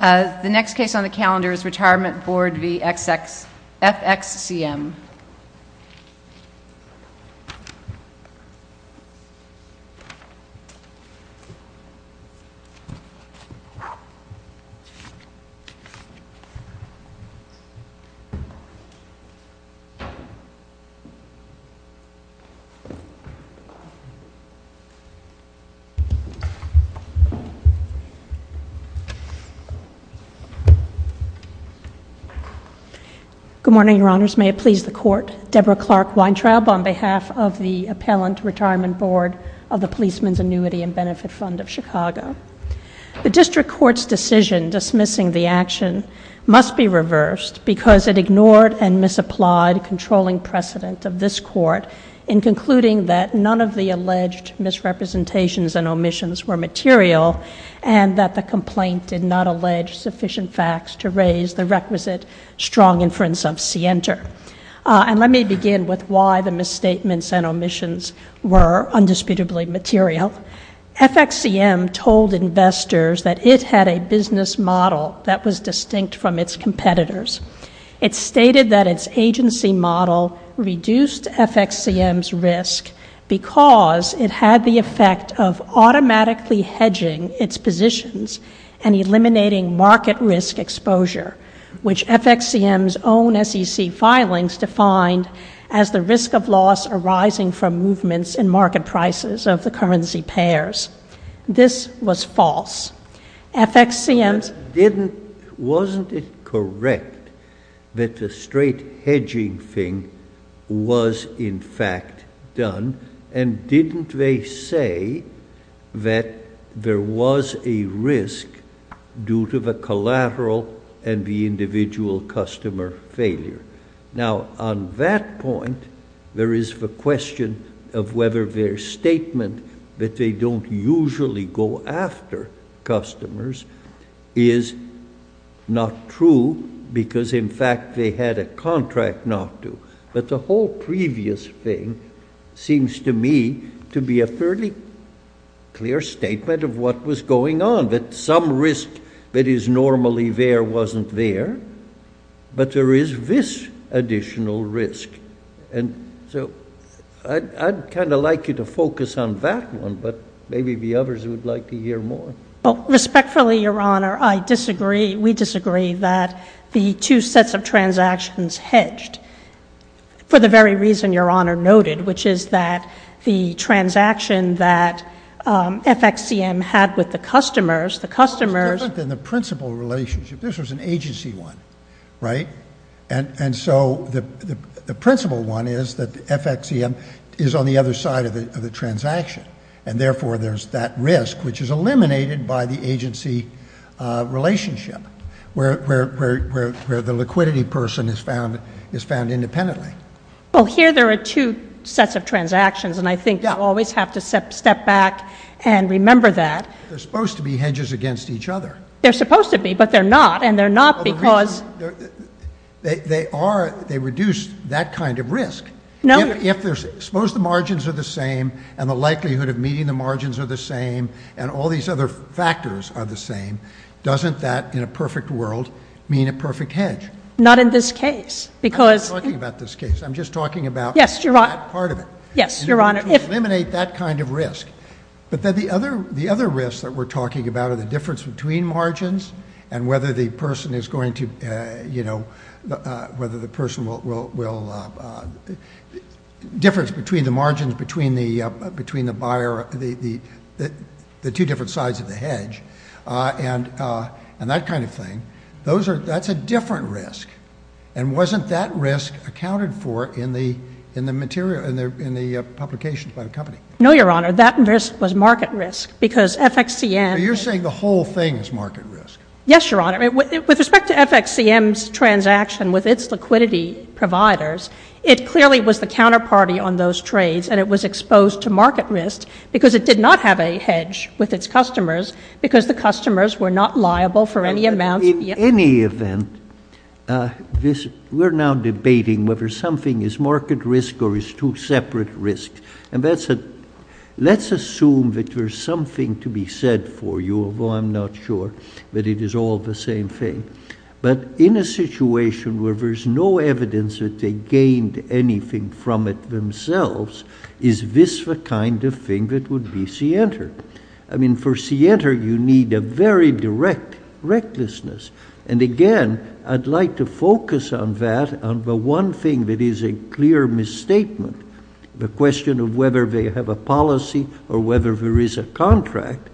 The next case on the calendar is Retirement Board v. FXCM. Good morning, Your Honors. May it please the Court, Deborah Clark Weintraub on behalf of the Appellant Retirement Board of the Policeman's Annuity and Benefit Fund of Chicago. The District Court's decision dismissing the action must be reversed because it ignored and misapplied controlling precedent of this Court in concluding that none of the alleged misrepresentations and omissions were material and that the complaint did not allege sufficient facts to raise the requisite strong inference of scienter. And let me begin with why the misstatements and omissions were undisputably material. FXCM told investors that it had a business model that was distinct from its competitors. It stated that its agency model reduced FXCM's risk because it had the effect of automatically hedging its positions and eliminating market risk exposure, which FXCM's own SEC filings defined as the risk of loss arising from movements in market prices of the currency pairs. This was false. FXCM's— Wasn't it correct that the straight hedging thing was, in fact, done? And didn't they say that there was a risk due to the collateral and the individual customer failure? Now, on that point, there is the question of whether their statement that they don't usually go after customers is not true because, in fact, they had a contract not to. But the whole previous thing seems to me to be a fairly clear statement of what was going on, that some risk that is normally there wasn't there, but there is this additional risk. And so I'd kind of like you to focus on that one, but maybe the others would like to hear more. Respectfully, Your Honor, I disagree—we disagree that the two sets of transactions hedged for the very reason Your Honor noted, which is that the transaction that FXCM had with the customers— It's different than the principal relationship. This was an agency one, right? And so the principal one is that FXCM is on the other side of the transaction, and therefore there's that risk, which is eliminated by the agency relationship, where the liquidity person is found independently. Well, here there are two sets of transactions, and I think you always have to step back and remember that. They're supposed to be hedges against each other. They're supposed to be, but they're not, and they're not because— They are—they reduce that kind of risk. Suppose the margins are the same, and the likelihood of meeting the margins are the same, and all these other factors are the same. Doesn't that, in a perfect world, mean a perfect hedge? Not in this case, because— I'm not talking about this case. I'm just talking about that part of it. Yes, Your Honor. To eliminate that kind of risk. But then the other risks that we're talking about are the difference between margins and whether the person is going to—you know, whether the person will— difference between the margins between the buyer, the two different sides of the hedge, and that kind of thing. That's a different risk, and wasn't that risk accounted for in the publications by the company? No, Your Honor. That risk was market risk, because FXCM— I'm saying the whole thing is market risk. Yes, Your Honor. With respect to FXCM's transaction with its liquidity providers, it clearly was the counterparty on those trades, and it was exposed to market risk because it did not have a hedge with its customers because the customers were not liable for any amounts— In any event, we're now debating whether something is market risk or is two separate risks, and let's assume that there's something to be said for you, although I'm not sure that it is all the same thing. But in a situation where there's no evidence that they gained anything from it themselves, is this the kind of thing that would be scienter? I mean, for scienter, you need a very direct recklessness. And again, I'd like to focus on that, on the one thing that is a clear misstatement, the question of whether they have a policy or whether there is a contract,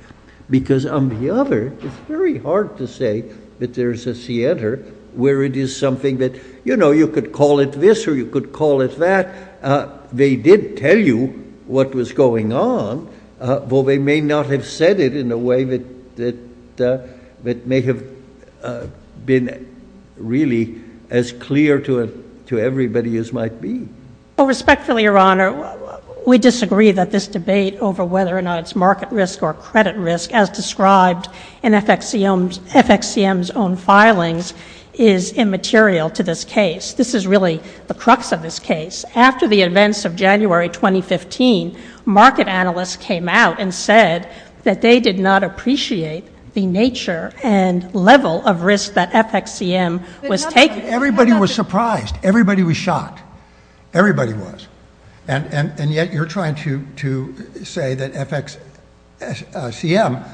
because on the other, it's very hard to say that there's a scienter where it is something that, you know, you could call it this or you could call it that. They did tell you what was going on, though they may not have said it in a way that may have been really as clear to everybody as might be. Well, respectfully, Your Honor, we disagree that this debate over whether or not it's market risk or credit risk, as described in FXCM's own filings, is immaterial to this case. This is really the crux of this case. After the events of January 2015, market analysts came out and said that they did not appreciate the nature and level of risk that FXCM was taking. Everybody was surprised. Everybody was shocked. Everybody was. And yet you're trying to say that FXCM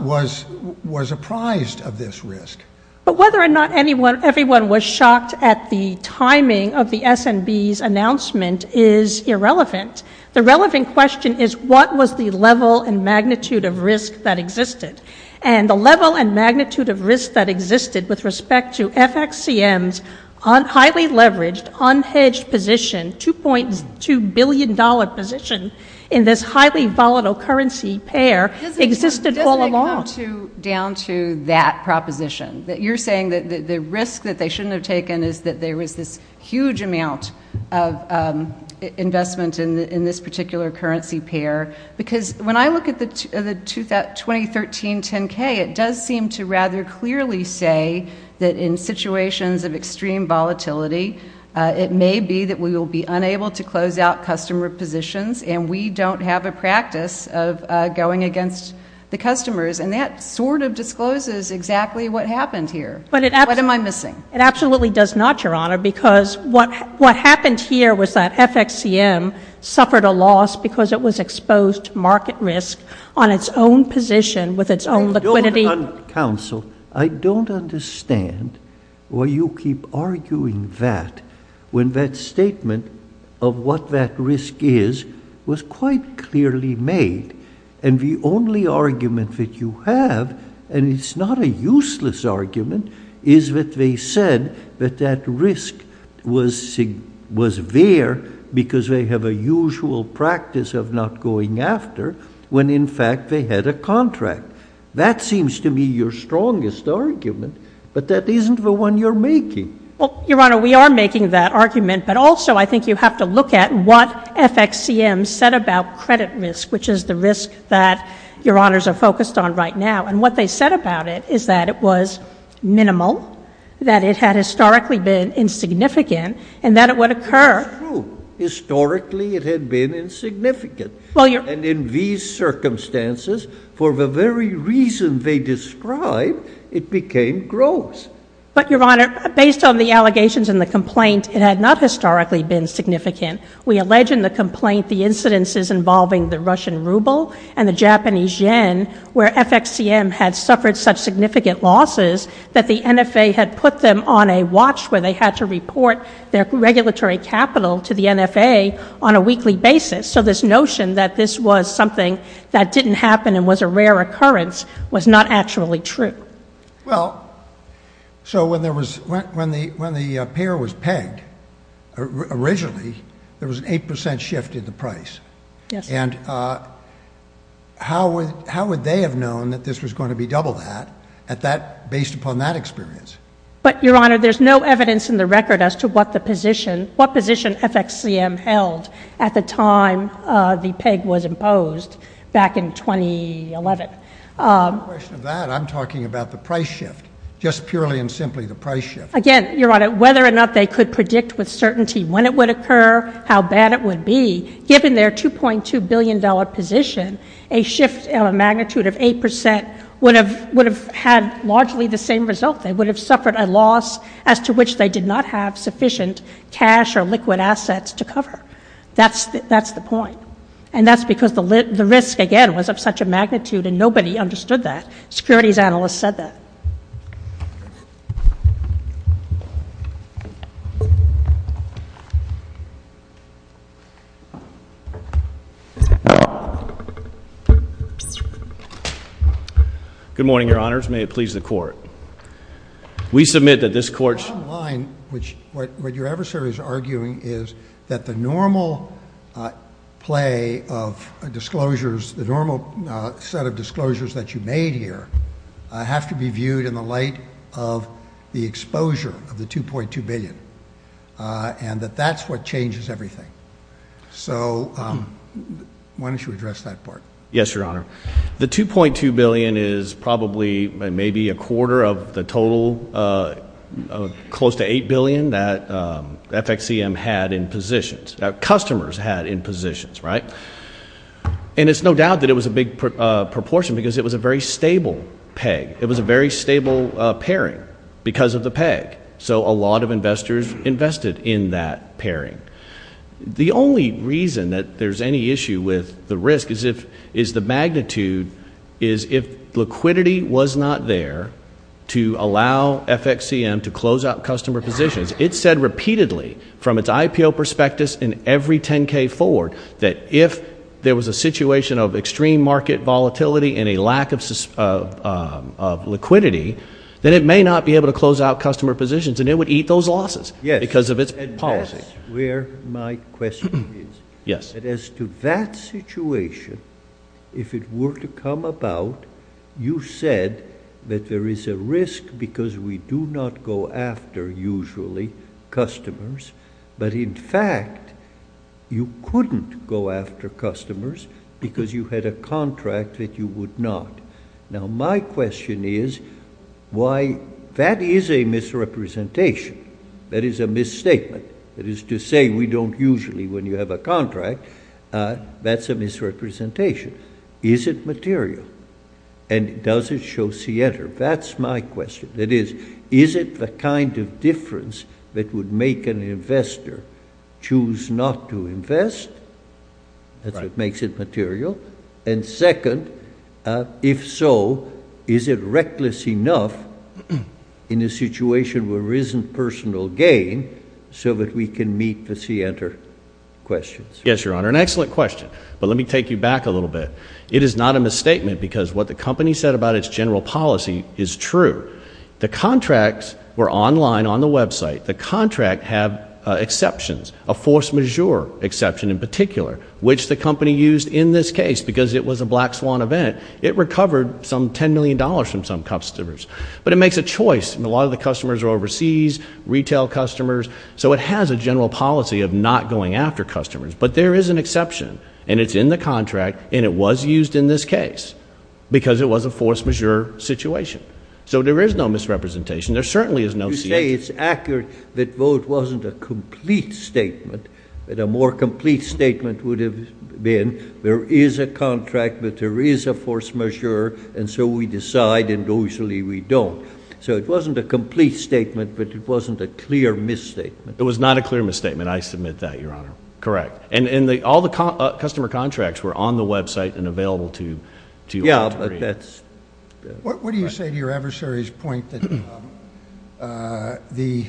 was apprised of this risk. But whether or not everyone was shocked at the timing of the S&B's announcement is irrelevant. The relevant question is what was the level and magnitude of risk that existed? And the level and magnitude of risk that existed with respect to FXCM's highly leveraged, unhedged position, $2.2 billion position in this highly volatile currency pair existed all along. Doesn't it come down to that proposition? You're saying that the risk that they shouldn't have taken is that there was this huge amount of investment in this particular currency pair. Because when I look at the 2013 10-K, it does seem to rather clearly say that in situations of extreme volatility, it may be that we will be unable to close out customer positions and we don't have a practice of going against the customers. And that sort of discloses exactly what happened here. What am I missing? It absolutely does not, Your Honor, because what happened here was that FXCM suffered a loss because it was exposed to market risk on its own position with its own liquidity. Counsel, I don't understand why you keep arguing that when that statement of what that risk is was quite clearly made. And the only argument that you have, and it's not a useless argument, is that they said that that risk was there because they have a usual practice of not going after when, in fact, they had a contract. That seems to me your strongest argument, but that isn't the one you're making. Well, Your Honor, we are making that argument, but also I think you have to look at what FXCM said about credit risk, which is the risk that Your Honors are focused on right now. And what they said about it is that it was minimal, that it had historically been insignificant, and that it would occur. That's true. Historically, it had been insignificant. And in these circumstances, for the very reason they described, it became gross. But, Your Honor, based on the allegations and the complaint, it had not historically been significant. We allege in the complaint the incidences involving the Russian ruble and the Japanese yen, where FXCM had suffered such significant losses that the NFA had put them on a watch where they had to report their regulatory capital to the NFA on a weekly basis. So this notion that this was something that didn't happen and was a rare occurrence was not actually true. Well, so when the pair was pegged originally, there was an 8 percent shift in the price. Yes. And how would they have known that this was going to be double that based upon that experience? But, Your Honor, there's no evidence in the record as to what position FXCM held at the time the peg was imposed back in 2011. On the question of that, I'm talking about the price shift, just purely and simply the price shift. Again, Your Honor, whether or not they could predict with certainty when it would occur, how bad it would be, given their $2.2 billion position, a shift of a magnitude of 8 percent would have had largely the same result. They would have suffered a loss as to which they did not have sufficient cash or liquid assets to cover. That's the point. And that's because the risk, again, was of such a magnitude and nobody understood that. Securities analysts said that. Good morning, Your Honors. May it please the Court. We submit that this Court's What your adversary is arguing is that the normal play of disclosures, the normal set of disclosures that you made here, have to be viewed in the light of the exposure of the $2.2 billion and that that's what changes everything. So why don't you address that part? Yes, Your Honor. The $2.2 billion is probably maybe a quarter of the total, close to $8 billion, that FXEM had in positions, that customers had in positions, right? And it's no doubt that it was a big proportion because it was a very stable peg. It was a very stable pairing because of the peg. The only reason that there's any issue with the risk is the magnitude is if liquidity was not there to allow FXEM to close out customer positions. It said repeatedly from its IPO prospectus in every $10K forward that if there was a situation of extreme market volatility and a lack of liquidity, then it may not be able to close out customer positions, and it would eat those losses because of its policy. That's where my question is. As to that situation, if it were to come about, you said that there is a risk because we do not go after, usually, customers, but in fact, you couldn't go after customers because you had a contract that you would not. Now, my question is why that is a misrepresentation. That is a misstatement. That is to say, we don't usually, when you have a contract, that's a misrepresentation. Is it material? And does it show Center? That's my question. That is, is it the kind of difference that would make an investor choose not to invest? That's what makes it material. And second, if so, is it reckless enough in a situation where there isn't personal gain so that we can meet the Center questions? Yes, Your Honor. An excellent question. But let me take you back a little bit. It is not a misstatement because what the company said about its general policy is true. The contracts were online on the website. The contract had exceptions, a force majeure exception in particular, which the company used in this case because it was a Black Swan event. It recovered some $10 million from some customers. But it makes a choice. A lot of the customers are overseas, retail customers, so it has a general policy of not going after customers. But there is an exception, and it's in the contract, and it was used in this case because it was a force majeure situation. So there is no misrepresentation. There certainly is no C. I would say it's accurate that the vote wasn't a complete statement, but a more complete statement would have been there is a contract, but there is a force majeure, and so we decide, and usually we don't. So it wasn't a complete statement, but it wasn't a clear misstatement. It was not a clear misstatement. I submit that, Your Honor. Correct. And all the customer contracts were on the website and available to you. What do you say to your adversary's point that the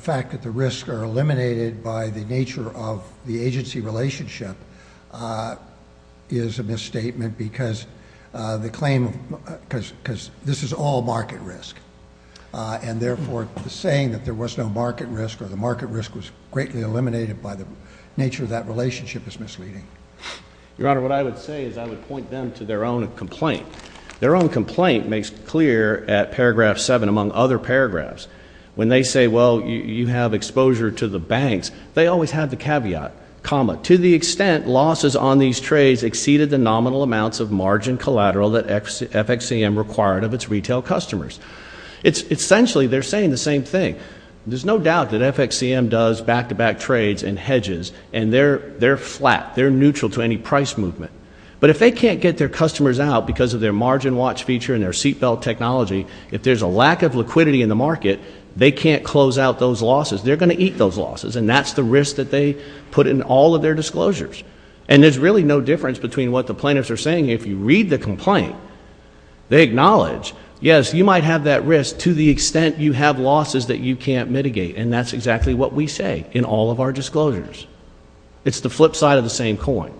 fact that the risks are eliminated by the nature of the agency relationship is a misstatement because this is all market risk, and, therefore, the saying that there was no market risk or the market risk was greatly eliminated by the nature of that relationship is misleading? Your Honor, what I would say is I would point them to their own complaint. Their own complaint makes clear at paragraph 7, among other paragraphs, when they say, well, you have exposure to the banks, they always have the caveat, comma, to the extent losses on these trades exceeded the nominal amounts of margin collateral that FXCM required of its retail customers. Essentially, they're saying the same thing. There's no doubt that FXCM does back-to-back trades and hedges, and they're flat. They're neutral to any price movement. But if they can't get their customers out because of their margin watch feature and their seatbelt technology, if there's a lack of liquidity in the market, they can't close out those losses. They're going to eat those losses, and that's the risk that they put in all of their disclosures. And there's really no difference between what the plaintiffs are saying. If you read the complaint, they acknowledge, yes, you might have that risk to the extent you have losses that you can't mitigate, and that's exactly what we say in all of our disclosures. It's the flip side of the same coin.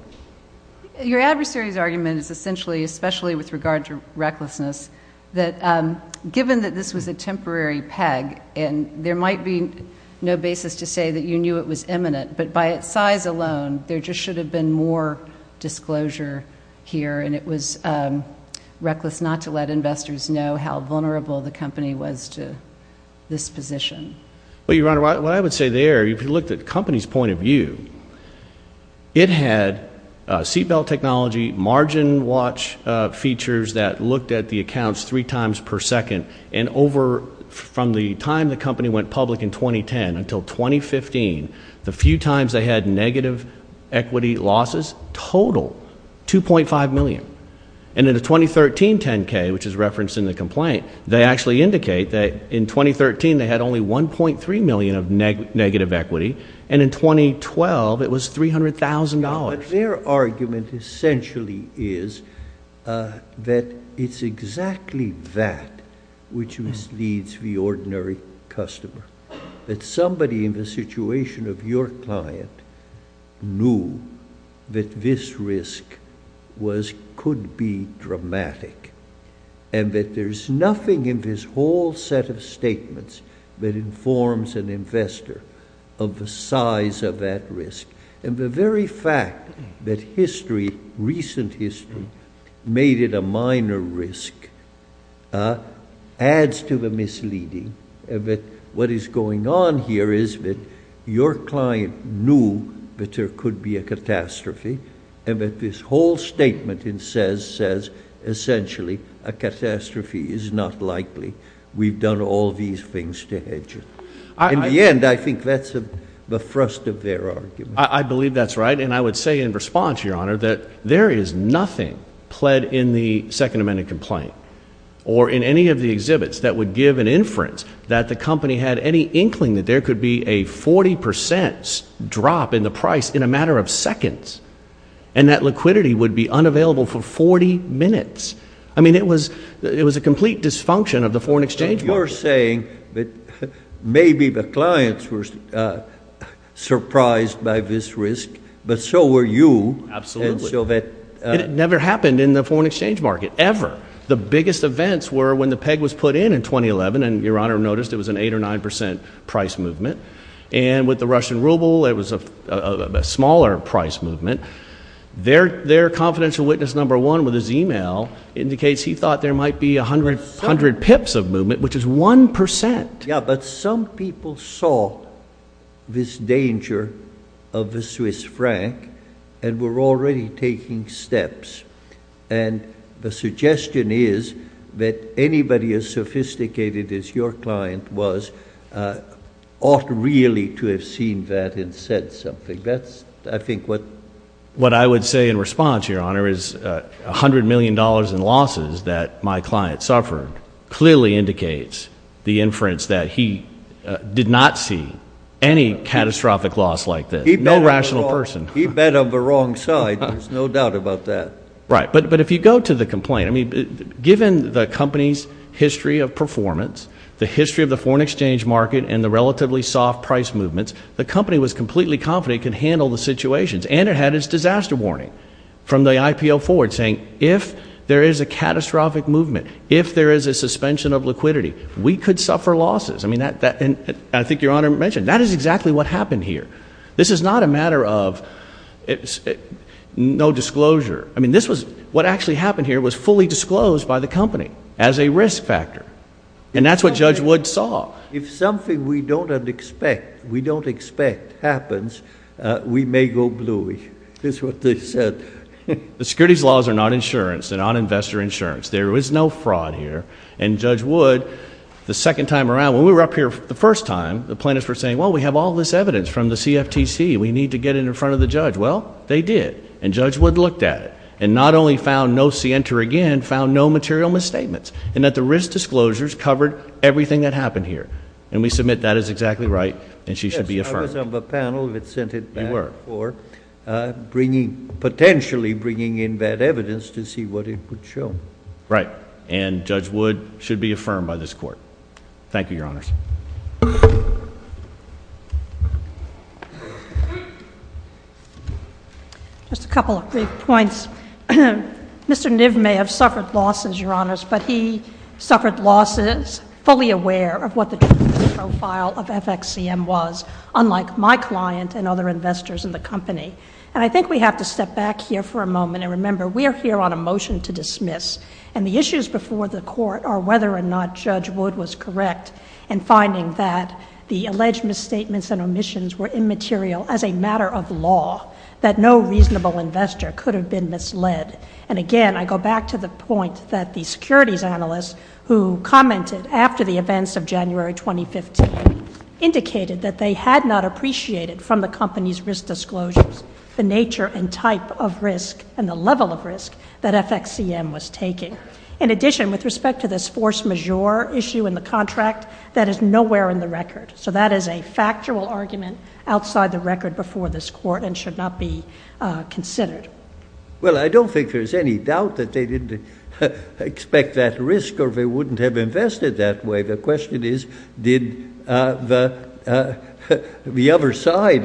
Your adversary's argument is essentially, especially with regard to recklessness, that given that this was a temporary peg, and there might be no basis to say that you knew it was imminent, but by its size alone, there just should have been more disclosure here, and it was reckless not to let investors know how vulnerable the company was to this position. Well, Your Honor, what I would say there, if you looked at the company's point of view, it had seatbelt technology, margin watch features that looked at the accounts three times per second, and over from the time the company went public in 2010 until 2015, the few times they had negative equity losses totaled $2.5 million. And in the 2013 10-K, which is referenced in the complaint, they actually indicate that in 2013 they had only $1.3 million of negative equity, and in 2012 it was $300,000. But their argument essentially is that it's exactly that which misleads the ordinary customer, that somebody in the situation of your client knew that this risk could be dramatic and that there's nothing in this whole set of statements that informs an investor of the size of that risk. And the very fact that history, recent history, made it a minor risk adds to the misleading that what is going on here is that your client knew that there could be a catastrophe and that this whole statement says essentially a catastrophe is not likely. We've done all these things to hedge it. In the end, I think that's the thrust of their argument. I believe that's right, and I would say in response, Your Honor, that there is nothing pled in the Second Amendment complaint or in any of the exhibits that would give an inference that the company had any inkling that there could be a 40 percent drop in the price in a matter of seconds and that liquidity would be unavailable for 40 minutes. I mean, it was a complete dysfunction of the foreign exchange market. So you're saying that maybe the clients were surprised by this risk, but so were you. Absolutely, and it never happened in the foreign exchange market, ever. The biggest events were when the peg was put in in 2011, and Your Honor noticed it was an 8 or 9 percent price movement. And with the Russian ruble, it was a smaller price movement. Their confidential witness number one with his e-mail indicates he thought there might be 100 pips of movement, which is 1 percent. Yeah, but some people saw this danger of the Swiss franc and were already taking steps. And the suggestion is that anybody as sophisticated as your client was ought really to have seen that and said something. That's, I think, what I would say in response, Your Honor, is $100 million in losses that my client suffered clearly indicates the inference that he did not see any catastrophic loss like this, no rational person. He bet on the wrong side. There's no doubt about that. Right, but if you go to the complaint, I mean, given the company's history of performance, the history of the foreign exchange market and the relatively soft price movements, the company was completely confident it could handle the situations. And it had its disaster warning from the IPO forward saying if there is a catastrophic movement, if there is a suspension of liquidity, we could suffer losses. I mean, I think Your Honor mentioned that is exactly what happened here. This is not a matter of no disclosure. I mean, this was what actually happened here was fully disclosed by the company as a risk factor. And that's what Judge Wood saw. If something we don't expect happens, we may go blue. That's what they said. The securities laws are not insurance. They're not investor insurance. There is no fraud here. And Judge Wood, the second time around, when we were up here the first time, the plaintiffs were saying, well, we have all this evidence from the CFTC. We need to get it in front of the judge. Well, they did. And Judge Wood looked at it and not only found no cienter again, found no material misstatements and that the risk disclosures covered everything that happened here. And we submit that is exactly right and she should be affirmed. Yes, I was on the panel that sent it back for potentially bringing in that evidence to see what it would show. Right. And Judge Wood should be affirmed by this Court. Thank you, Your Honors. Just a couple of brief points. Mr. Niv may have suffered losses, Your Honors, but he suffered losses fully aware of what the profile of FXCM was, unlike my client and other investors in the company. And I think we have to step back here for a moment and remember we are here on a motion to dismiss. And the issues before the Court are whether or not Judge Wood was correct in finding that the alleged misstatements and omissions were immaterial as a matter of law, that no reasonable investor could have been misled. And again, I go back to the point that the securities analysts who commented after the events of January 2015 indicated that they had not appreciated from the company's risk disclosures the nature and type of risk and the level of risk that FXCM was taking. In addition, with respect to this force majeure issue in the contract, that is nowhere in the record. So that is a factual argument outside the record before this Court and should not be considered. Well, I don't think there's any doubt that they didn't expect that risk or they wouldn't have invested that way. The question is, did the other side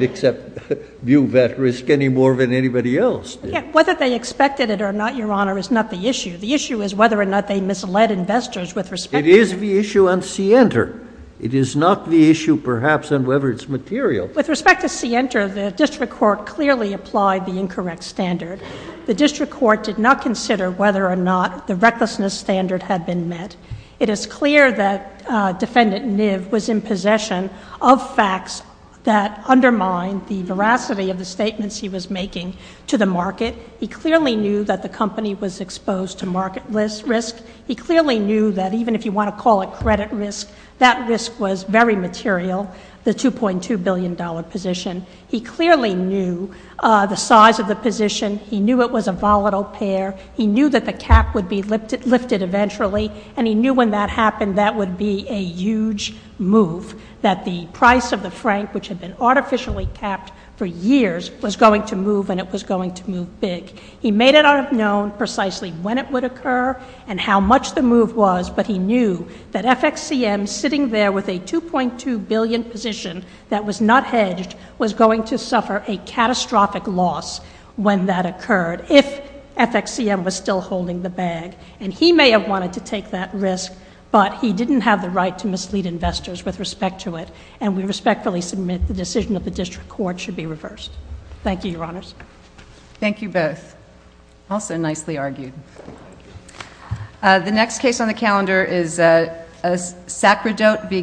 view that risk any more than anybody else did? Whether they expected it or not, Your Honor, is not the issue. The issue is whether or not they misled investors with respect to— It is the issue on CNTR. It is not the issue, perhaps, on whether it's material. With respect to CNTR, the district court clearly applied the incorrect standard. The district court did not consider whether or not the recklessness standard had been met. It is clear that Defendant Niv was in possession of facts that undermined the veracity of the statements he was making to the market. He clearly knew that the company was exposed to market risk. He clearly knew that even if you want to call it credit risk, that risk was very material, the $2.2 billion position. He clearly knew the size of the position. He knew it was a volatile pair. He knew that the cap would be lifted eventually, and he knew when that happened, that would be a huge move, that the price of the franc, which had been artificially capped for years, was going to move, and it was going to move big. He may not have known precisely when it would occur and how much the move was, but he knew that FXCM, sitting there with a $2.2 billion position that was not hedged, was going to suffer a catastrophic loss when that occurred. If FXCM was still holding the bag, and he may have wanted to take that risk, but he didn't have the right to mislead investors with respect to it, and we respectfully submit the decision of the district court should be reversed. Thank you, Your Honors. Thank you both. Also nicely argued. The next case on the calendar is Sacrodote v. Kammack.